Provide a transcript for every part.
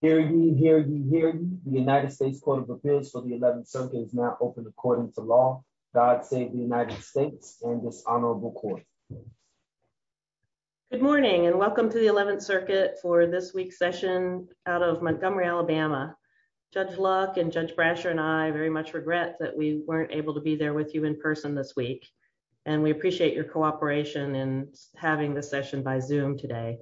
Hear ye, hear ye, hear ye. The United States Court of Appeals for the 11th Circuit is now open according to law. God save the United States and this honorable court. Good morning and welcome to the 11th Circuit for this week's session out of Montgomery, Alabama. Judge Luck and Judge Brasher and I very much regret that we weren't able to be there with you in person this week and we appreciate your cooperation in having this session by Zoom today.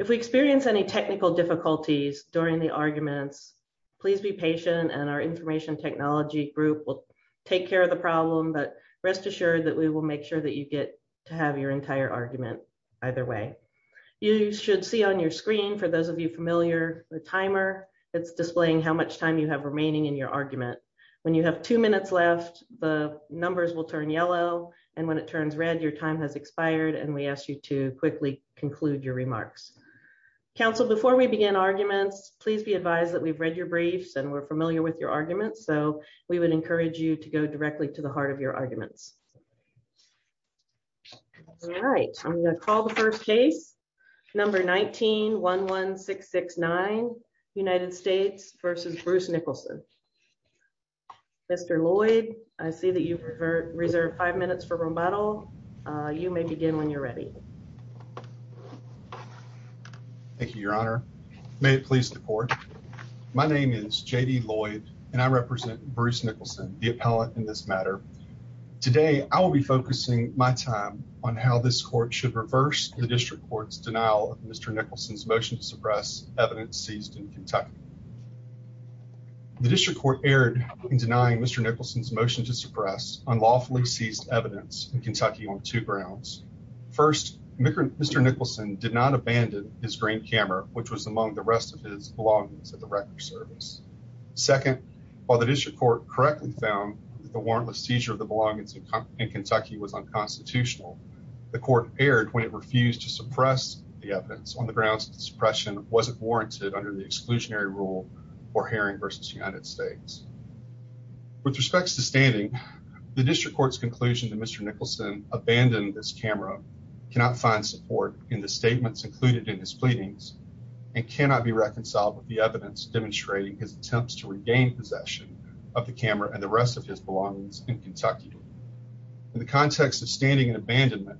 If we experience any technical difficulties during the arguments, please be patient and our information technology group will take care of the problem but rest assured that we will make sure that you get to have your entire argument either way. You should see on your screen, for those of you familiar, the timer. It's displaying how much time you have remaining in your argument. When you have two minutes left, the numbers will turn yellow and it turns red. Your time has expired and we ask you to quickly conclude your remarks. Council, before we begin arguments, please be advised that we've read your briefs and we're familiar with your arguments so we would encourage you to go directly to the heart of your arguments. All right, I'm going to call the first case, number 19-11669, United States v. Bruce Nicholson. Mr. Lloyd, I see that you've reserved five minutes for rebuttal. You may begin when you're ready. Thank you, your honor. May it please the court. My name is J.D. Lloyd and I represent Bruce Nicholson, the appellant in this matter. Today, I will be focusing my time on how this court should reverse the district court's denial of Mr. Nicholson's motion to suppress evidence seized in Kentucky. The district court erred in denying Mr. Nicholson's motion to suppress unlawfully seized evidence in Kentucky on two grounds. First, Mr. Nicholson did not abandon his green camera, which was among the rest of his belongings at the record service. Second, while the district court correctly found that the warrantless seizure of the belongings in Kentucky was unconstitutional, the court erred when it refused to suppress the evidence on the grounds that suppression wasn't warranted under the exclusionary rule for Herring v. United States. With respects to standing, the district court's conclusion that Mr. Nicholson abandoned this camera cannot find support in the statements included in his pleadings and cannot be reconciled with the evidence demonstrating his attempts to regain possession of the camera and the rest of his belongings in Kentucky. In the context of standing and abandonment,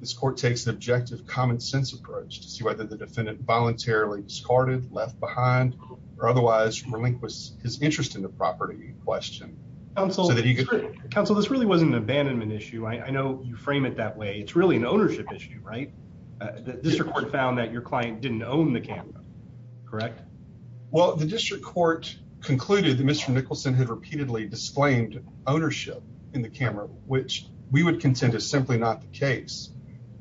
this court takes an objective common sense approach to see whether the defendant voluntarily discarded, left behind, or otherwise relinquished his interest in the property in question. Counsel, this really wasn't an abandonment issue. I know you frame it that way. It's really an ownership issue, right? The district court found that your client didn't own the camera, correct? Well, the district court concluded that Mr. Nicholson had repeatedly disclaimed ownership in the camera, which we would contend is simply not the case.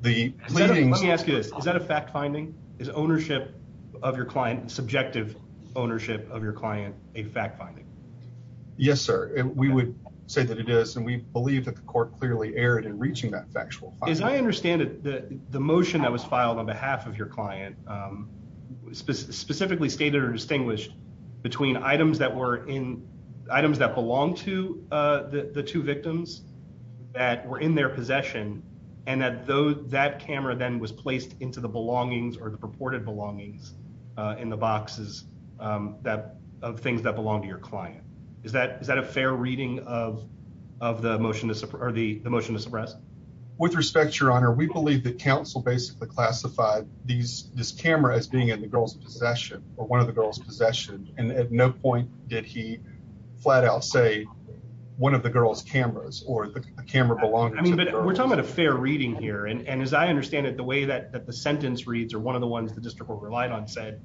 Let me ask you this. Is that a fact finding? Is ownership of your client, subjective ownership of your client, a fact finding? Yes, sir. We would say that it is, and we believe that the court clearly erred in reaching that factual finding. As I understand it, the motion that was filed on behalf of your client specifically stated or distinguished between items that were in, the two victims that were in their possession, and that camera then was placed into the belongings or the purported belongings in the boxes of things that belong to your client. Is that a fair reading of the motion to suppress? With respect, your honor, we believe that counsel basically classified this camera as being in the girl's possession or at no point did he flat out say one of the girl's cameras or the camera belonging. I mean, but we're talking about a fair reading here, and as I understand it, the way that the sentence reads or one of the ones the district court relied on said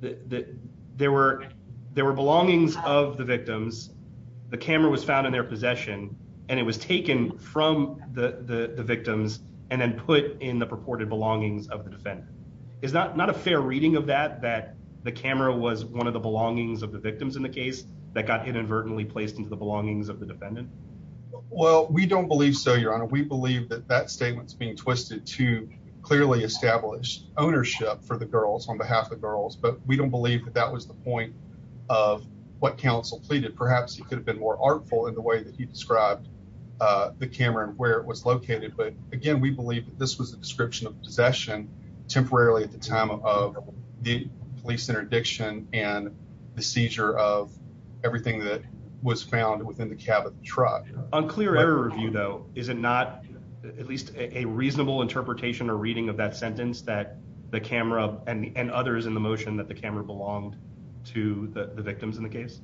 that there were belongings of the victims, the camera was found in their possession, and it was taken from the victims and then put in the purported belongings of the defendant. Is that not a fair reading of that, that the camera was one of the belongings of the victims in the case that got inadvertently placed into the belongings of the defendant? Well, we don't believe so, your honor. We believe that that statement's being twisted to clearly establish ownership for the girls on behalf of girls, but we don't believe that that was the point of what counsel pleaded. Perhaps he could have been more artful in the way that he described the camera and where it was located, but again, we believe that this was a description of possession temporarily at the time of the police interdiction and the seizure of everything that was found within the cab of the truck. On clear error review though, is it not at least a reasonable interpretation or reading of that sentence that the camera and others in the motion that the camera belonged to the victims in the case?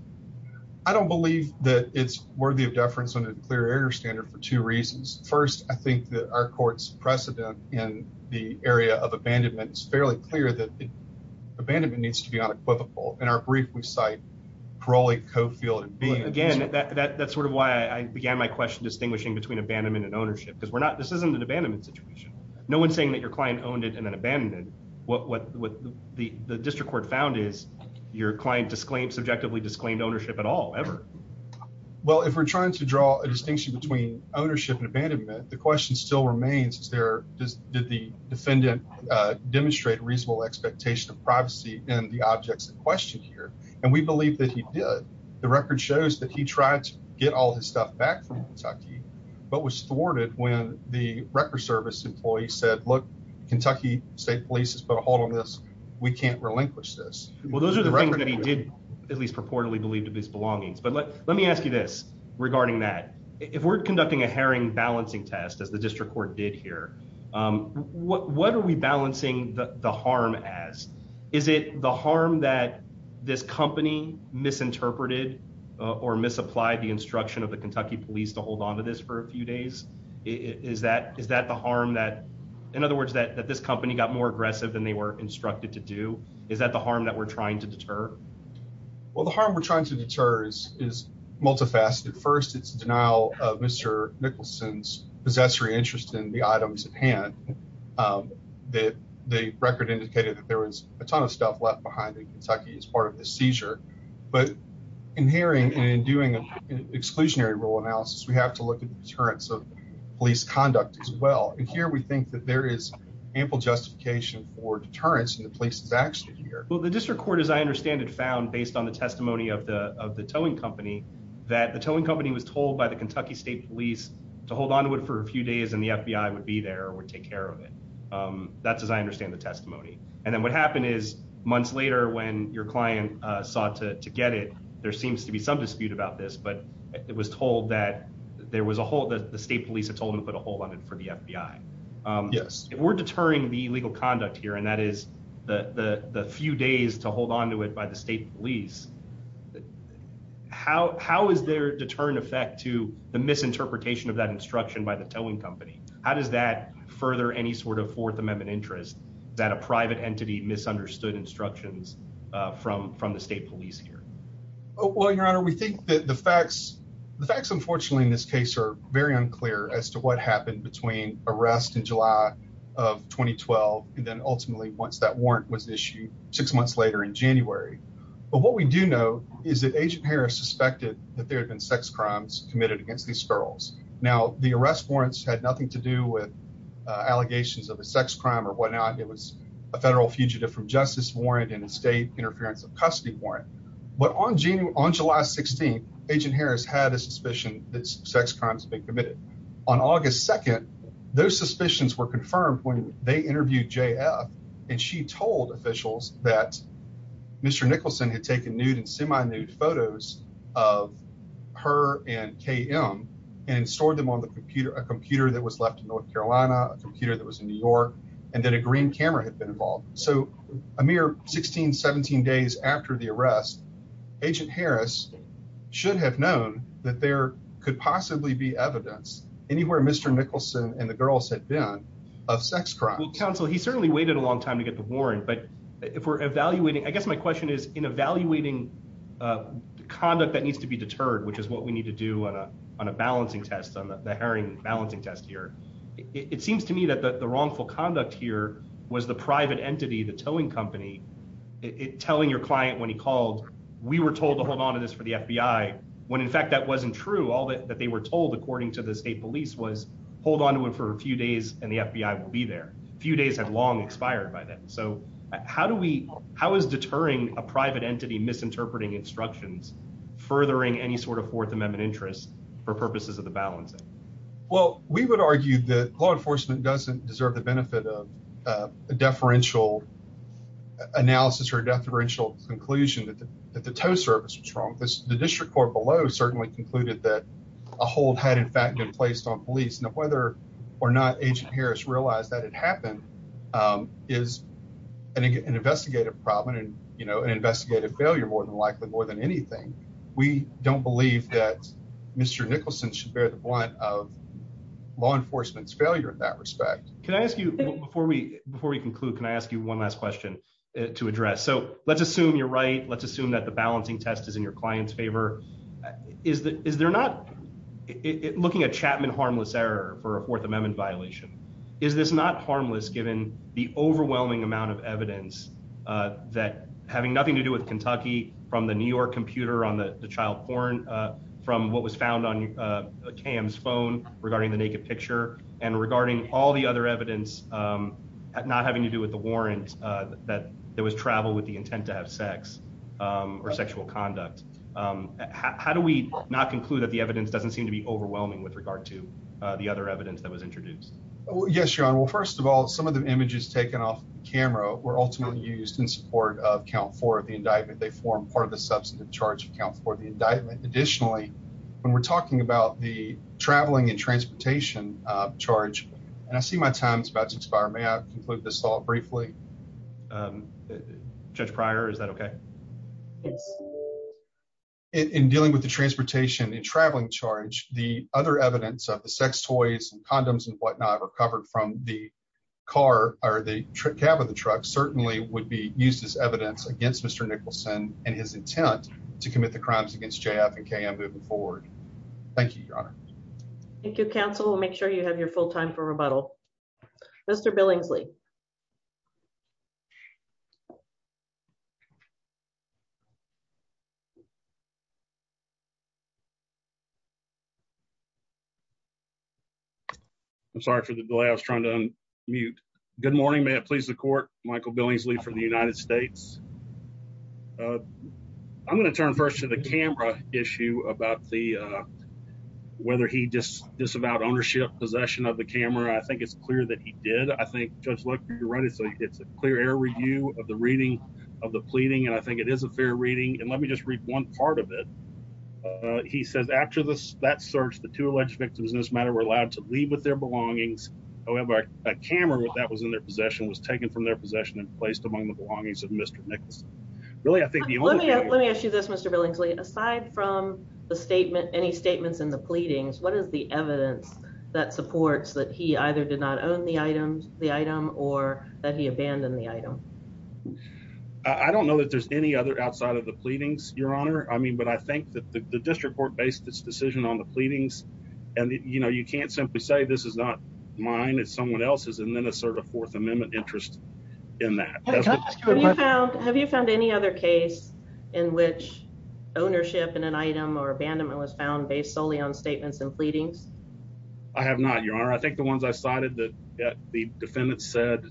I don't believe that it's worthy of precedent in the area of abandonment. It's fairly clear that abandonment needs to be unequivocal. In our brief, we cite parole, co-field, and again, that's sort of why I began my question distinguishing between abandonment and ownership because we're not, this isn't an abandonment situation. No one's saying that your client owned it and then abandoned it. What the district court found is your client disclaimed, subjectively disclaimed ownership at all, ever. Well, if we're going to look at what still remains, is there, did the defendant demonstrate reasonable expectation of privacy in the objects in question here? And we believe that he did. The record shows that he tried to get all his stuff back from Kentucky, but was thwarted when the record service employee said, look, Kentucky State Police has put a hold on this. We can't relinquish this. Well, those are the things that he did, at least purportedly believed to be his belongings. But let me ask you this as the district court did here. What are we balancing the harm as? Is it the harm that this company misinterpreted or misapplied the instruction of the Kentucky police to hold on to this for a few days? Is that the harm that, in other words, that this company got more aggressive than they were instructed to do? Is that the harm that we're trying to deter? Well, the harm we're trying to deter is multifaceted. First, it's the denial of Mr. Nicholson's interest in the items at hand. The record indicated that there was a ton of stuff left behind in Kentucky as part of the seizure. But in hearing and doing an exclusionary rule analysis, we have to look at the deterrence of police conduct as well. And here we think that there is ample justification for deterrence in the police's action here. Well, the district court, as I understand it, found based on the testimony of the towing company that the towing company was told by the Kentucky State Police to hold on to it for a few days and the FBI would be there or would take care of it. That's as I understand the testimony. And then what happened is months later when your client sought to get it, there seems to be some dispute about this, but it was told that the state police had told him to put a hold on it for the FBI. Yes. If we're deterring the illegal conduct here, and that is the few days to hold on to it by the state police, how is there deterrent effect to the misinterpretation of that instruction by the towing company? How does that further any sort of Fourth Amendment interest that a private entity misunderstood instructions from the state police here? Well, Your Honor, we think that the facts, the facts unfortunately in this case are very unclear as to what happened between arrest in July of 2012 and then ultimately once that warrant was issued six months later in January. But what we do know is that Agent Harris suspected that there had been sex crimes committed against these girls. Now the arrest warrants had nothing to do with allegations of a sex crime or whatnot. It was a federal fugitive from justice warrant and a state interference of custody warrant. But on June, on July 16th, Agent Harris had a suspicion that sex crimes had been committed. On August 2nd, those suspicions were confirmed when they interviewed J.F. and she told officials that Mr. Nicholson had taken nude and semi nude photos of her and K.M. and stored them on the computer, a computer that was left in North Carolina, a computer that was in New York, and then a green camera had been involved. So a mere 16, 17 days after the arrest, Agent Harris should have known that there could possibly be evidence anywhere Mr. Nicholson and the girls had been of sex crime. Counsel, he certainly waited a long time to get the warrant, but if we're evaluating, I guess my question is, in evaluating conduct that needs to be deterred, which is what we need to do on a balancing test, on the herring balancing test here, it seems to me that the wrongful conduct here was the private entity, the towing company, telling your client when he called, we were told to hold onto this for the FBI, when in fact that wasn't true. All that they were told according to the state police was hold onto it for a few days and the FBI will be there. A few days had long expired by then. So how do we, how is deterring a private entity misinterpreting instructions, furthering any sort of Fourth Amendment interest for purposes of the balancing? Well, we would argue that law enforcement doesn't deserve the benefit of a deferential analysis or a deferential conclusion that the tow service was wrong. The district court below certainly concluded that a hold had in fact been placed on police. Now whether or not Agent Harris realized that it happened is an investigative problem and an investigative failure more than likely, more than anything. We don't believe that Mr. Nicholson should bear the brunt of law enforcement's failure in that respect. Can I ask you, before we conclude, can I ask you one last question to address? So let's assume you're right. Let's assume that the balancing test is in your client's favor. Is there not, looking at Chapman harmless error for a Fourth Amendment violation, is this not harmless given the overwhelming amount of evidence that having nothing to do with Kentucky from the New York computer on the child porn from what was found on Cam's phone regarding the naked picture and regarding all the other evidence not having to do with the warrant that there was travel with the intent to have sex or sexual conduct. How do we not conclude that the evidence doesn't seem to be overwhelming with regard to the other evidence that was introduced? Well, yes, John. Well, first of all, some of the images taken off camera were ultimately used in support of count for the indictment. They form part of the substantive charge account for the indictment. Additionally, when we're talking about the traveling and transportation charge, and I see my time is about to expire. May I conclude this thought briefly? Judge Prior, is that okay? In dealing with the transportation and traveling charge, the other evidence of the sex toys and condoms and whatnot recovered from the car or the cab of the truck certainly would be used as evidence against Mr. Nicholson and his intent to commit the crimes against J.F. and K.M. moving forward. Thank you, Your Honor. Thank you, counsel. Make sure you have your full time for rebuttal. Mr. Billingsley. I'm sorry for the delay. I was trying to unmute. Good morning. May it please the court. Michael Billingsley from the United States. I'm going to turn first to the camera issue about the whether he just disavowed ownership possession of the camera. I think it's clear that he did. I think, Judge, you're right. It's a clear air review of the reading of the pleading. And I that search, the two alleged victims in this matter were allowed to leave with their belongings. However, a camera that was in their possession was taken from their possession and placed among the belongings of Mr. Nicholson. Really, I think you let me let me ask you this, Mr. Billingsley, aside from the statement, any statements in the pleadings, what is the evidence that supports that he either did not own the items, the item or that he abandoned the item? I don't know that there's any other outside of the pleadings, Your Honor. I mean, but I think the district court based its decision on the pleadings. And, you know, you can't simply say this is not mine, it's someone else's and then assert a Fourth Amendment interest in that. Have you found any other case in which ownership in an item or abandonment was found based solely on statements and pleadings? I have not, Your Honor. I think the ones I cited that the defendant said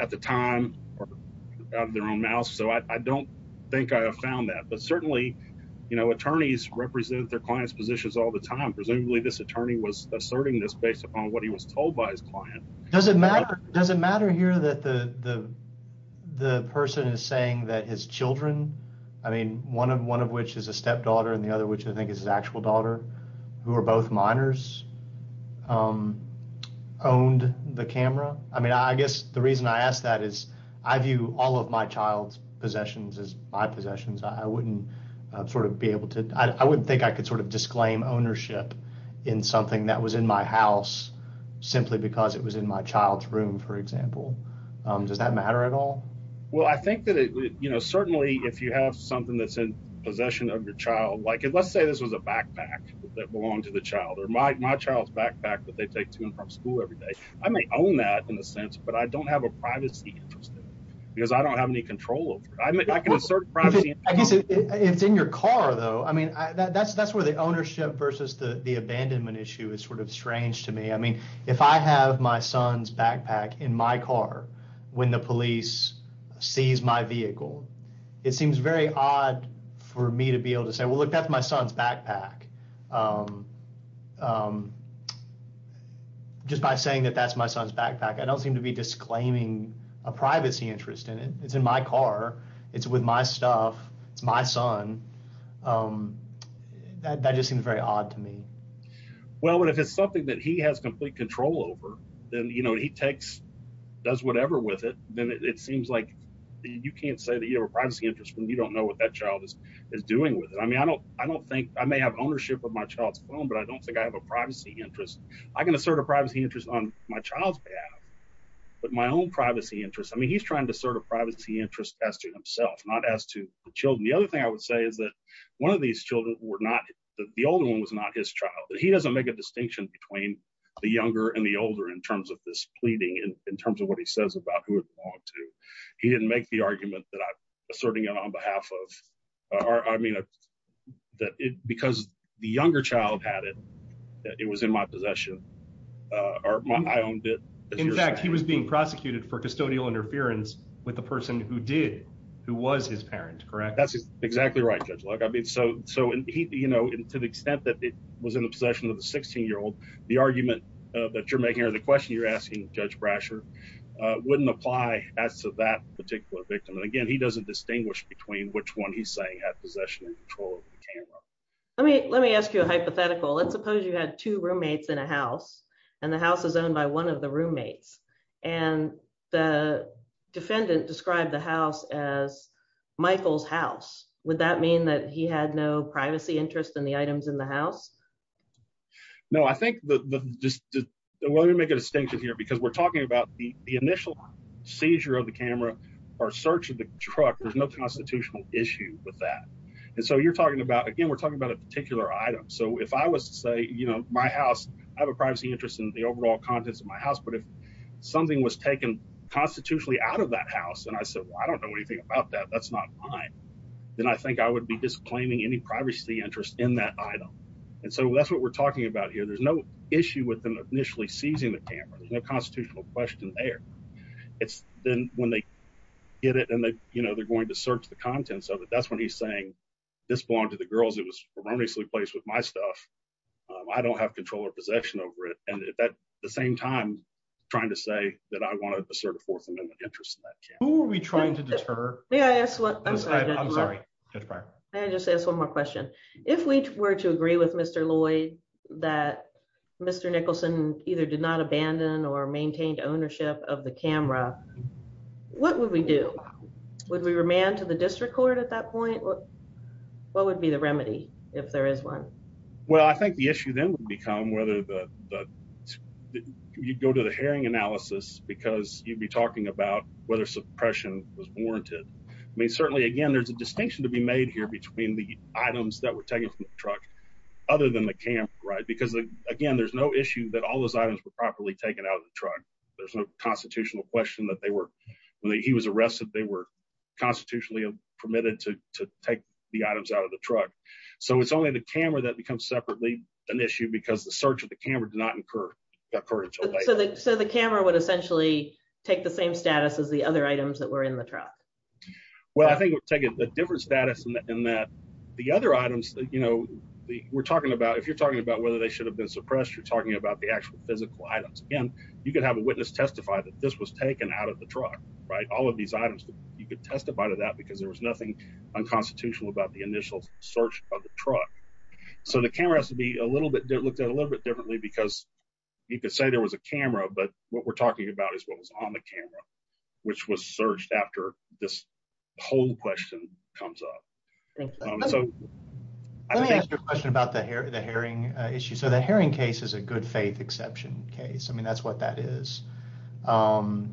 at the time are out of their own mouth. So I don't think I have found that. But certainly, you know, attorneys represent their clients positions all the time. Presumably this attorney was asserting this based upon what he was told by his client. Does it matter? Does it matter here that the the the person is saying that his children, I mean, one of one of which is a stepdaughter and the other, which I think is his actual daughter, who are both minors, owned the camera? I mean, I guess the reason I ask that is I view all of my child's possessions as my possessions. I wouldn't sort of be able to I wouldn't think I could sort of disclaim ownership in something that was in my house simply because it was in my child's room, for example. Does that matter at all? Well, I think that, you know, certainly if you have something that's in your child, like let's say this was a backpack that belonged to the child or my child's backpack that they take to and from school every day. I may own that in a sense, but I don't have a privacy interest because I don't have any control over it. I can assert privacy. I guess it's in your car, though. I mean, that's that's where the ownership versus the abandonment issue is sort of strange to me. I mean, if I have my son's backpack in my car when the police sees my say, well, look, that's my son's backpack. Just by saying that that's my son's backpack, I don't seem to be disclaiming a privacy interest in it. It's in my car. It's with my stuff. It's my son. That just seems very odd to me. Well, if it's something that he has complete control over, then, you know, he takes does whatever with it. Then it seems like you can't say that you have a privacy interest when you don't know what that child is doing with it. I mean, I don't I don't think I may have ownership of my child's phone, but I don't think I have a privacy interest. I can assert a privacy interest on my child's behalf, but my own privacy interest. I mean, he's trying to assert a privacy interest as to himself, not as to the children. The other thing I would say is that one of these children were not the older one was not his child. He doesn't make a distinction between the younger and the older in terms of this pleading in terms of what he says about who it belonged to. He didn't make the argument that I'm asserting it on behalf of or I mean that because the younger child had it, that it was in my possession or I owned it. In fact, he was being prosecuted for custodial interference with the person who did, who was his parent. Correct? That's exactly right, Judge Luck. I mean, so, so, you know, to the extent that it was in the possession of the 16 year old, the argument that you're making or the question you're asking Judge Brasher wouldn't apply as to that particular victim. And again, he doesn't distinguish between which one he's saying had possession and control of the camera. Let me, let me ask you a hypothetical. Let's suppose you had two roommates in a house and the house is owned by one of the roommates and the defendant described the house as Michael's house. Would that mean that he had no privacy interest in the items in the house? No, I think the, the, well, let me make a distinction here because we're talking about the initial seizure of the camera or search of the truck. There's no constitutional issue with that. And so you're talking about, again, we're talking about a particular item. So if I was to say, you know, my house, I have a privacy interest in the overall contents of my house, but if something was taken constitutionally out of that house and I said, well, I don't know anything about that, that's not mine. Then I think I would be disclaiming any privacy interest in that item. And so that's what we're talking about here. There's no issue with them initially seizing the camera. There's no constitutional question there. It's then when they get it and they, you know, they're going to search the contents of it. That's when he's saying this belonged to the girls. It was erroneously placed with my stuff. I don't have control or possession over it. And at the same time, trying to say that I wanted to assert a fourth amendment interest in that camera. Who are we trying to deter? May I ask one more question? If we were to agree with Mr. Lloyd that Mr. Nicholson either did not abandon or maintained ownership of the camera, what would we do? Would we remand to the district court at that point? What would be the remedy if there is one? Well, I think the issue then would become whether the, you'd go to the hearing analysis because you'd be talking about whether suppression was warranted. I mean, certainly again, there's a distinction to be made here between the items that were taken from the truck other than the camera, right? Because again, there's no issue that all those items were properly taken out of the truck. There's no constitutional question that they were, when he was arrested, they were constitutionally permitted to take the items out of the truck. So it's only the camera that becomes separately an issue because the search of the camera did not occur until later. So the camera would essentially take the same status as the other items that were in the truck. Well, I think we're taking a different status in that the other items that, you know, we're talking about, if you're talking about whether they should have been suppressed, you're talking about the actual physical items. Again, you could have a witness testify that this was taken out of the truck, right? All of these items, you could testify to that because there was nothing unconstitutional about the initial search of the truck. So the camera has to be a little bit, looked at a little bit differently because you could say there was a camera, but what we're talking about is what was on the camera, which was searched after this whole question comes up. Let me ask you a question about the herring issue. So the herring case is a good faith exception case. I mean, that's what that is. How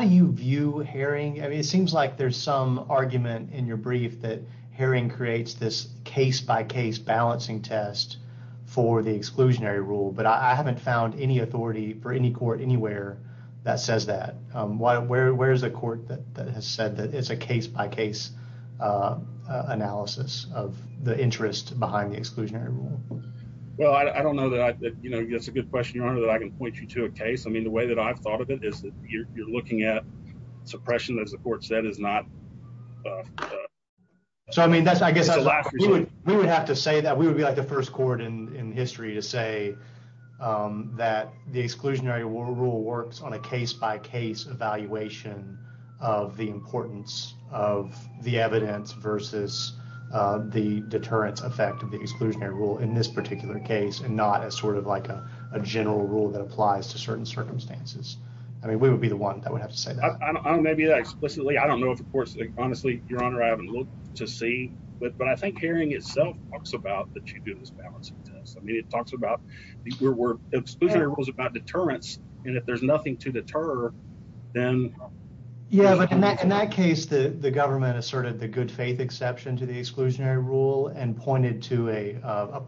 do you view herring? I mean, it seems like there's some argument in your brief that herring creates this case by case balancing test for the exclusionary rule, but I haven't found any authority for any court anywhere that says that. Where is the court that has said that it's a case by case analysis of the interest behind the exclusionary rule? Well, I don't know that, you know, that's a good question, Your Honor, that I can point you to a case. I mean, the way that I've thought of it is that you're looking at suppression, as the court said, is not. So I mean, that's I guess we would have to say that we would be like the first court in history to say that the exclusionary rule works on a case by case evaluation of the importance of the evidence versus the deterrence effect of the exclusionary rule in this particular case, and not as sort of like a general rule that applies to certain circumstances. I mean, we don't know if, of course, honestly, Your Honor, I haven't looked to see, but I think herring itself talks about that you do this balancing test. I mean, it talks about the exclusionary rules about deterrence, and if there's nothing to deter, then. Yeah, but in that case, the government asserted the good faith exception to the exclusionary rule and pointed to a,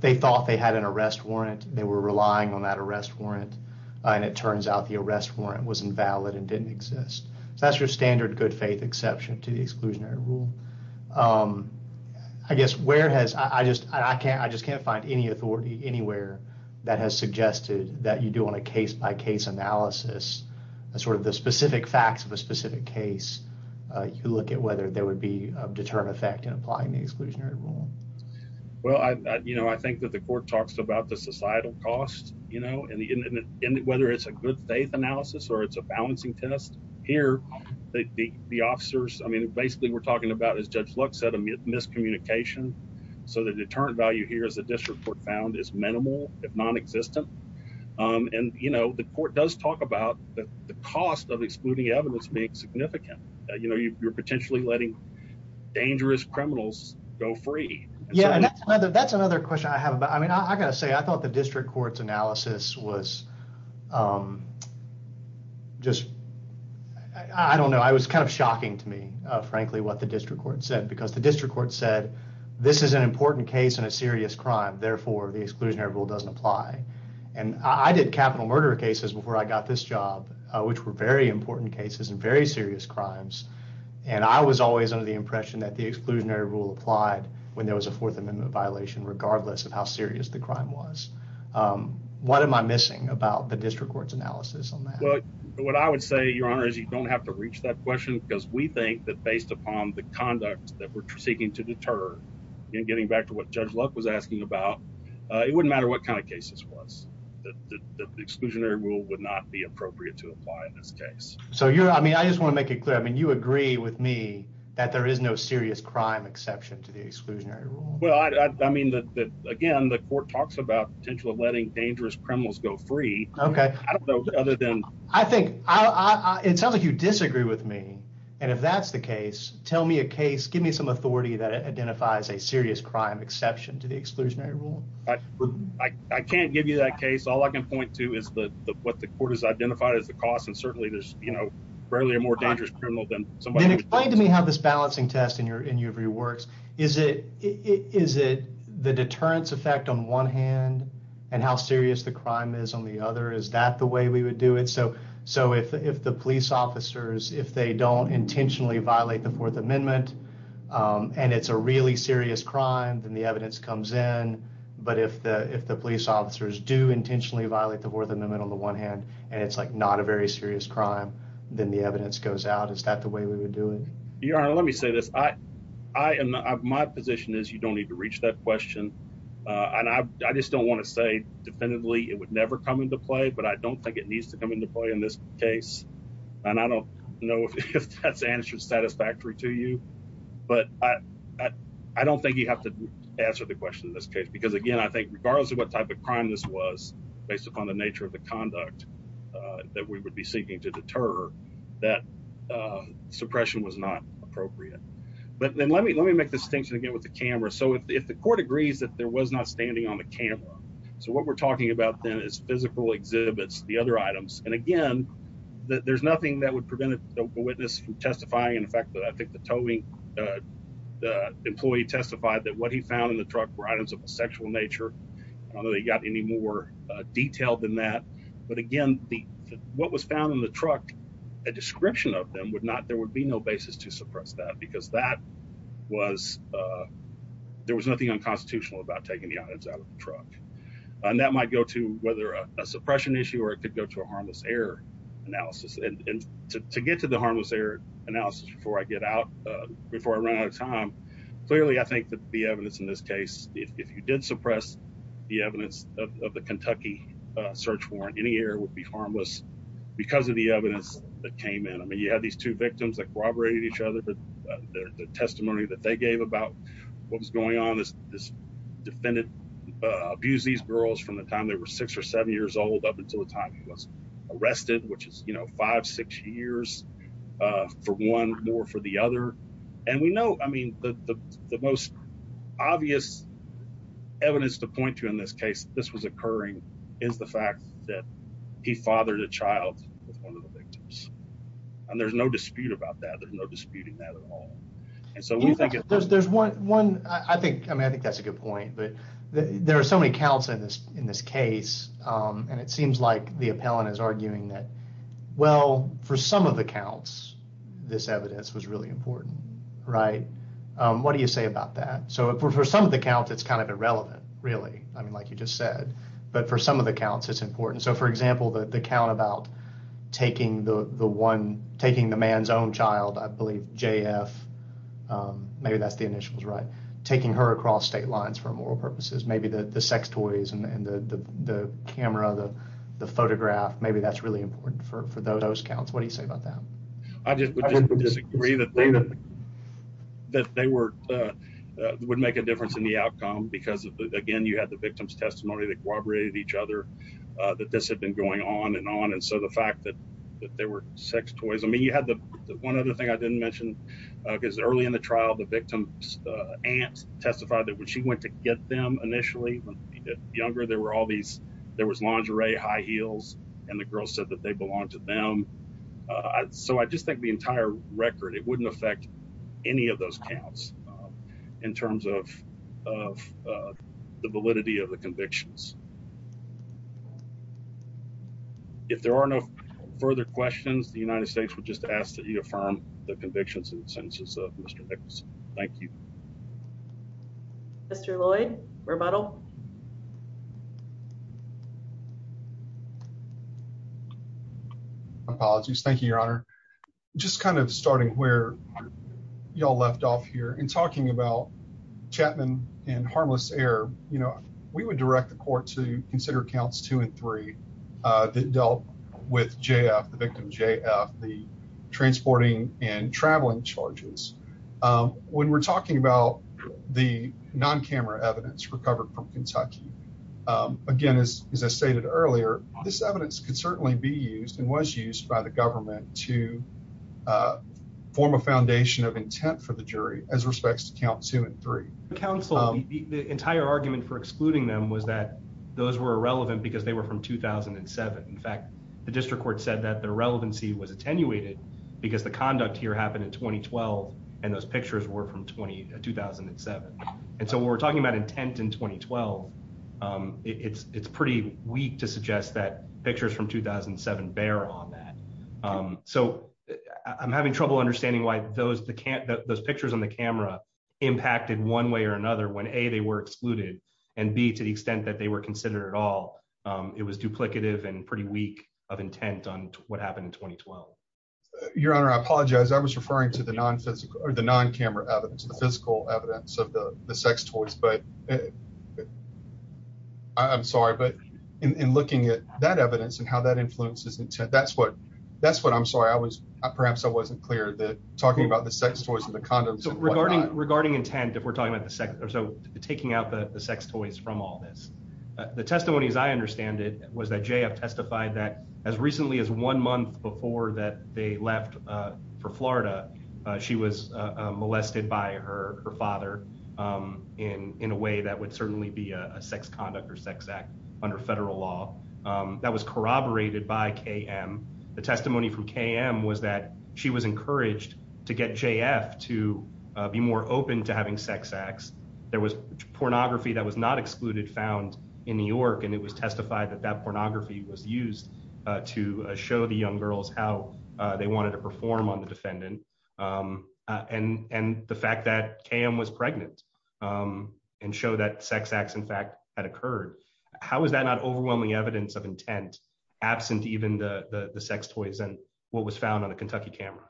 they thought they had an arrest warrant, they were relying on that arrest warrant, and it turns out the arrest warrant was invalid and didn't exist. So that's your standard good faith exception to the exclusionary rule. I guess where has, I just can't find any authority anywhere that has suggested that you do on a case by case analysis, sort of the specific facts of a specific case, you look at whether there would be a deterrent effect in applying the exclusionary rule. Well, I think that the court talks about the societal cost, and whether it's a good faith analysis or it's a balancing test. Here, the officers, I mean, basically we're talking about, as Judge Lux said, a miscommunication. So the deterrent value here, as the district court found, is minimal, if non-existent. And, you know, the court does talk about the cost of excluding evidence being significant. You know, you're potentially letting dangerous criminals go free. Yeah, and that's another question I have about, I mean, I gotta say, I was just, I don't know, it was kind of shocking to me, frankly, what the district court said. Because the district court said, this is an important case and a serious crime, therefore the exclusionary rule doesn't apply. And I did capital murder cases before I got this job, which were very important cases and very serious crimes. And I was always under the impression that the exclusionary rule applied when there was a Fourth Amendment violation, regardless of how serious the about the district court's analysis on that. Well, what I would say, Your Honor, is you don't have to reach that question, because we think that based upon the conduct that we're seeking to deter, and getting back to what Judge Lux was asking about, it wouldn't matter what kind of cases it was. The exclusionary rule would not be appropriate to apply in this case. So you're, I mean, I just want to make it clear, I mean, you agree with me that there is no serious crime exception to the exclusionary rule. Well, I mean, that again, the court talks about the potential of letting dangerous criminals go free. Okay. I don't know other than. I think, it sounds like you disagree with me. And if that's the case, tell me a case, give me some authority that identifies a serious crime exception to the exclusionary rule. I can't give you that case. All I can point to is the, what the court has identified as the cost. And certainly there's, you know, barely a more dangerous criminal than somebody. Then explain to me how this balancing test in Is it the deterrence effect on one hand and how serious the crime is on the other? Is that the way we would do it? So if the police officers, if they don't intentionally violate the Fourth Amendment, and it's a really serious crime, then the evidence comes in. But if the police officers do intentionally violate the Fourth Amendment on the one hand, and it's like not a very serious crime, then the evidence goes out. Is that the way we would do it? Your Honor, let me say this. I am, my position is you don't need to reach that question. And I just don't want to say definitively, it would never come into play. But I don't think it needs to come into play in this case. And I don't know if that's answered satisfactory to you. But I don't think you have to answer the question in this case. Because again, I think regardless of what type of crime this was, based upon the nature of the conduct that we would be seeking to deter, that suppression was not appropriate. But then let me let me make the distinction again with the camera. So if the court agrees that there was not standing on the camera, so what we're talking about then is physical exhibits, the other items. And again, there's nothing that would prevent a witness from testifying. In fact, that I think the towing, the employee testified that what he found in the truck were items of a sexual nature. I don't know they got any more detailed than that. But again, what was found in the truck, a description of them would not there would be no basis to suppress that because that was there was nothing unconstitutional about taking the items out of the truck. And that might go to whether a suppression issue or it could go to a harmless error analysis. And to get to the harmless error analysis before I get out, before I run out of time. Clearly, I think that the evidence in this case, if you did suppress the evidence of the Kentucky search warrant, any error would be harmless. Because of the evidence that came in, I mean, you have these two victims that corroborated each other, but the testimony that they gave about what was going on is this defendant abused these girls from the time they were six or seven years old up until the time he was arrested, which is, you know, five, six years for one more for the other. And we know, I mean, the most obvious evidence to point to in this case, this was occurring is the fact that he fathered a child with one of the victims. And there's no dispute about that. There's no disputing that at all. And so we think there's, there's one, one, I think, I mean, I think that's a good point, but there are so many counts in this, in this case. And it seems like the appellant is arguing that, well, for some of the counts, this evidence was really important, right? What do you say about that? So for some of the counts, it's kind of irrelevant, really. I mean, like you just said, but for some of the counts it's important. So for example, the count about taking the one, taking the man's own child, I believe JF, maybe that's the initials, right? Taking her across state lines for moral purposes, maybe the sex toys and the camera, the photograph, maybe that's really important for those counts. What do you say about that? I just disagree that they were, would make a difference in the outcome because again, you had the victim's testimony that corroborated each other, that this had been going on and on. And so the fact that there were sex toys, I mean, you had the one other thing I didn't mention because early in the trial, the victim's aunt testified that when she went to get them initially when they were younger, there were all these, there was lingerie, high heels, and the girl said that they belonged to them. So I just think the entire record, it wouldn't affect any of those counts in terms of the validity of the convictions. If there are no further questions, the United States would just ask that you affirm the convictions and sentences of Mr. Nicholson. Thank you. Mr. Lloyd, rebuttal. Apologies. Thank you, Your Honor. Just kind of starting where y'all left off here in talking about Chapman and harmless error, we would direct the court to consider counts two and three that dealt with JF, the victim JF, the transporting and traveling charges. When we're talking about the non-camera evidence recovered from Kentucky, again, as I stated earlier, this evidence could certainly be used and was used by the government to form a foundation of intent for the jury as respects to count two and three. Counsel, the entire argument for excluding them was that those were irrelevant because they were from 2007. In fact, the district court said that the relevancy was attenuated because the conduct here happened in 2012 and those pictures were from 2007. And so when we're talking about intent in 2012, it's pretty weak to suggest that pictures from 2007 bear on that. So I'm having trouble understanding why those pictures on the camera impacted one way or another when A, they were excluded and B, to the extent that they were considered at all, it was duplicative and pretty weak of intent on what happened in 2012. Your Honor, I apologize. I was referring to the condoms. I'm sorry, but in looking at that evidence and how that influences intent, that's what, that's what I'm sorry. I was, perhaps I wasn't clear that talking about the sex toys and the condoms. Regarding intent, if we're talking about the sex, or so taking out the sex toys from all this, the testimony as I understand it was that JF testified that as recently as one month before that they left for Florida, she was molested by her father in a way that would certainly be a sex conduct or sex act under federal law that was corroborated by KM. The testimony from KM was that she was encouraged to get JF to be more open to having sex acts. There was pornography that was not excluded found in New York and it was testified that that pornography was used to show the young girls how they wanted to perform on the defendant. And, and the fact that KM was pregnant and show that sex acts in fact had occurred. How is that not overwhelming evidence of intent absent even the, the sex toys and what was found on a Kentucky camera?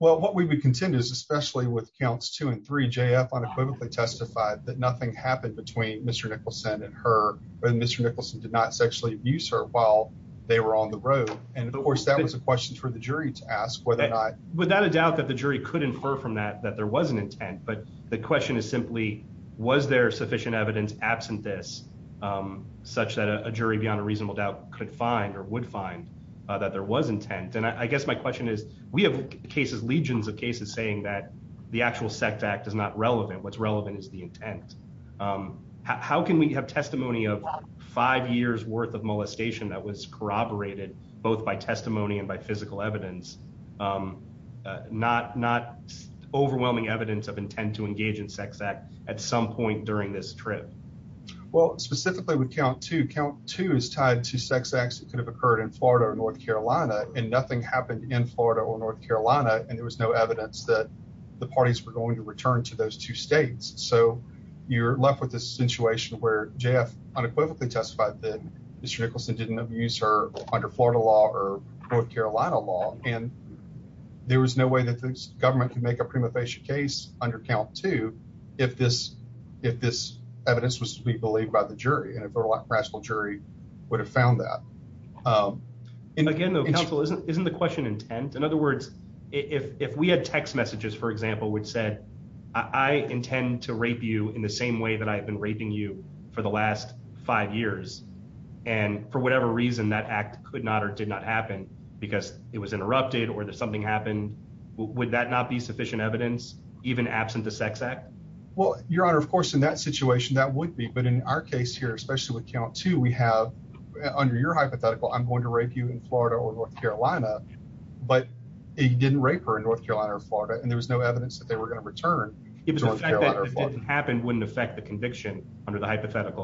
Well, what we would contend is especially with counts two and three, JF unequivocally testified that nothing happened between Mr. Nicholson and her. Mr. Nicholson did not sexually abuse her while they were on the road. And of course that was a question for the jury to ask whether or not. Without a doubt that the jury could infer from that, that there was an intent, but the question is simply, was there sufficient evidence absent this such that a jury beyond a reasonable doubt could find or would find that there was intent. And I guess my question is, we have cases, legions of cases saying that the actual sex act is not relevant. What's relevant is the intent. How can we have testimony of five years worth of molestation that was corroborated both by testimony and by physical evidence? Um, uh, not, not overwhelming evidence of intent to engage in sex act at some point during this trip. Well, specifically with count to count two is tied to sex acts that could have occurred in Florida or North Carolina and nothing happened in Florida or North Carolina. And there was no evidence that the parties were going to return to those two States. So you're left with this situation where JF unequivocally testified that Nicholson didn't abuse her under Florida law or North Carolina law. And there was no way that this government can make a prima facie case under count to, if this, if this evidence was to be believed by the jury and if there were a lot rational jury would have found that. Um, and again, though, counsel isn't, isn't the question intent. In other words, if, if we had text messages, for example, which said, I intend to rape you in the same way that I have been raping you for the last five years. And for whatever reason that act could not, or did not happen because it was interrupted or there's something happened. Would that not be sufficient evidence even absent the sex act? Well, your honor, of course, in that situation, that would be, but in our case here, especially with count two, we have under your hypothetical, I'm going to rape you in Florida or North Carolina, but he didn't rape her in North Carolina or Florida. And there was no evidence that they were going to return. It was hypothetical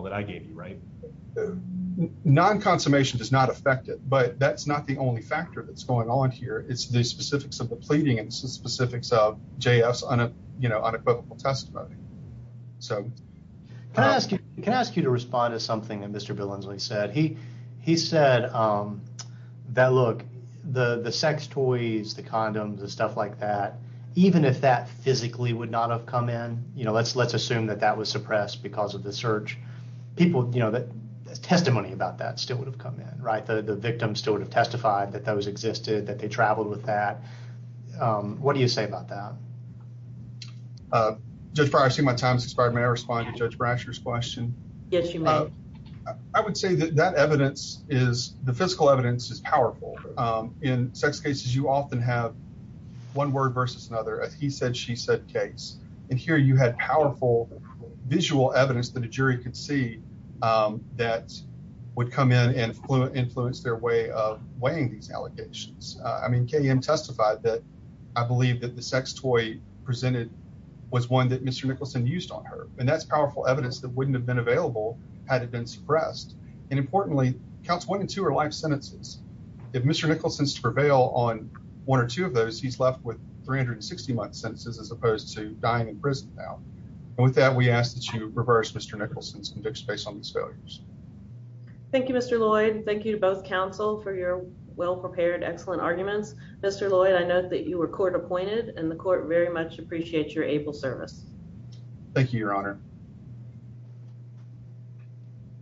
that I gave you, right? Non-consummation does not affect it, but that's not the only factor that's going on here. It's the specifics of the pleading. It's the specifics of JS on a, you know, unequivocal testimony. So can I ask you, can I ask you to respond to something that Mr. Billinsley said? He, he said, um, that look, the, the sex toys, the condoms and stuff like that, even if that physically would not have come in, you know, let's, let's assume that that was suppressed because of the search people, you know, that testimony about that still would have come in, right? The, the victim still would have testified that those existed, that they traveled with that. Um, what do you say about that? Uh, just for, I see my time's expired. May I respond to judge Brasher's question? Yes, you may. I would say that that evidence is the physical evidence is powerful. Um, in sex cases, you often have one word versus another. He said, she said case. And here you had powerful visual evidence that a jury could see, um, that would come in and influence their way of weighing these allocations. Uh, I mean, KM testified that I believe that the sex toy presented was one that Mr. Nicholson used on her and that's powerful evidence that wouldn't have been available had it been suppressed. And importantly, counts one and two are life sentences. If Mr. Nicholson's prevail on one or two of those, he's left with 360 month sentences as opposed to dying in prison now. And with that, we ask that you reverse Mr. Nicholson's conviction based on these failures. Thank you, Mr. Lloyd. Thank you to both counsel for your well-prepared, excellent arguments. Mr. Lloyd, I know that you were court appointed and the court very much appreciate your able service. Thank you, your honor.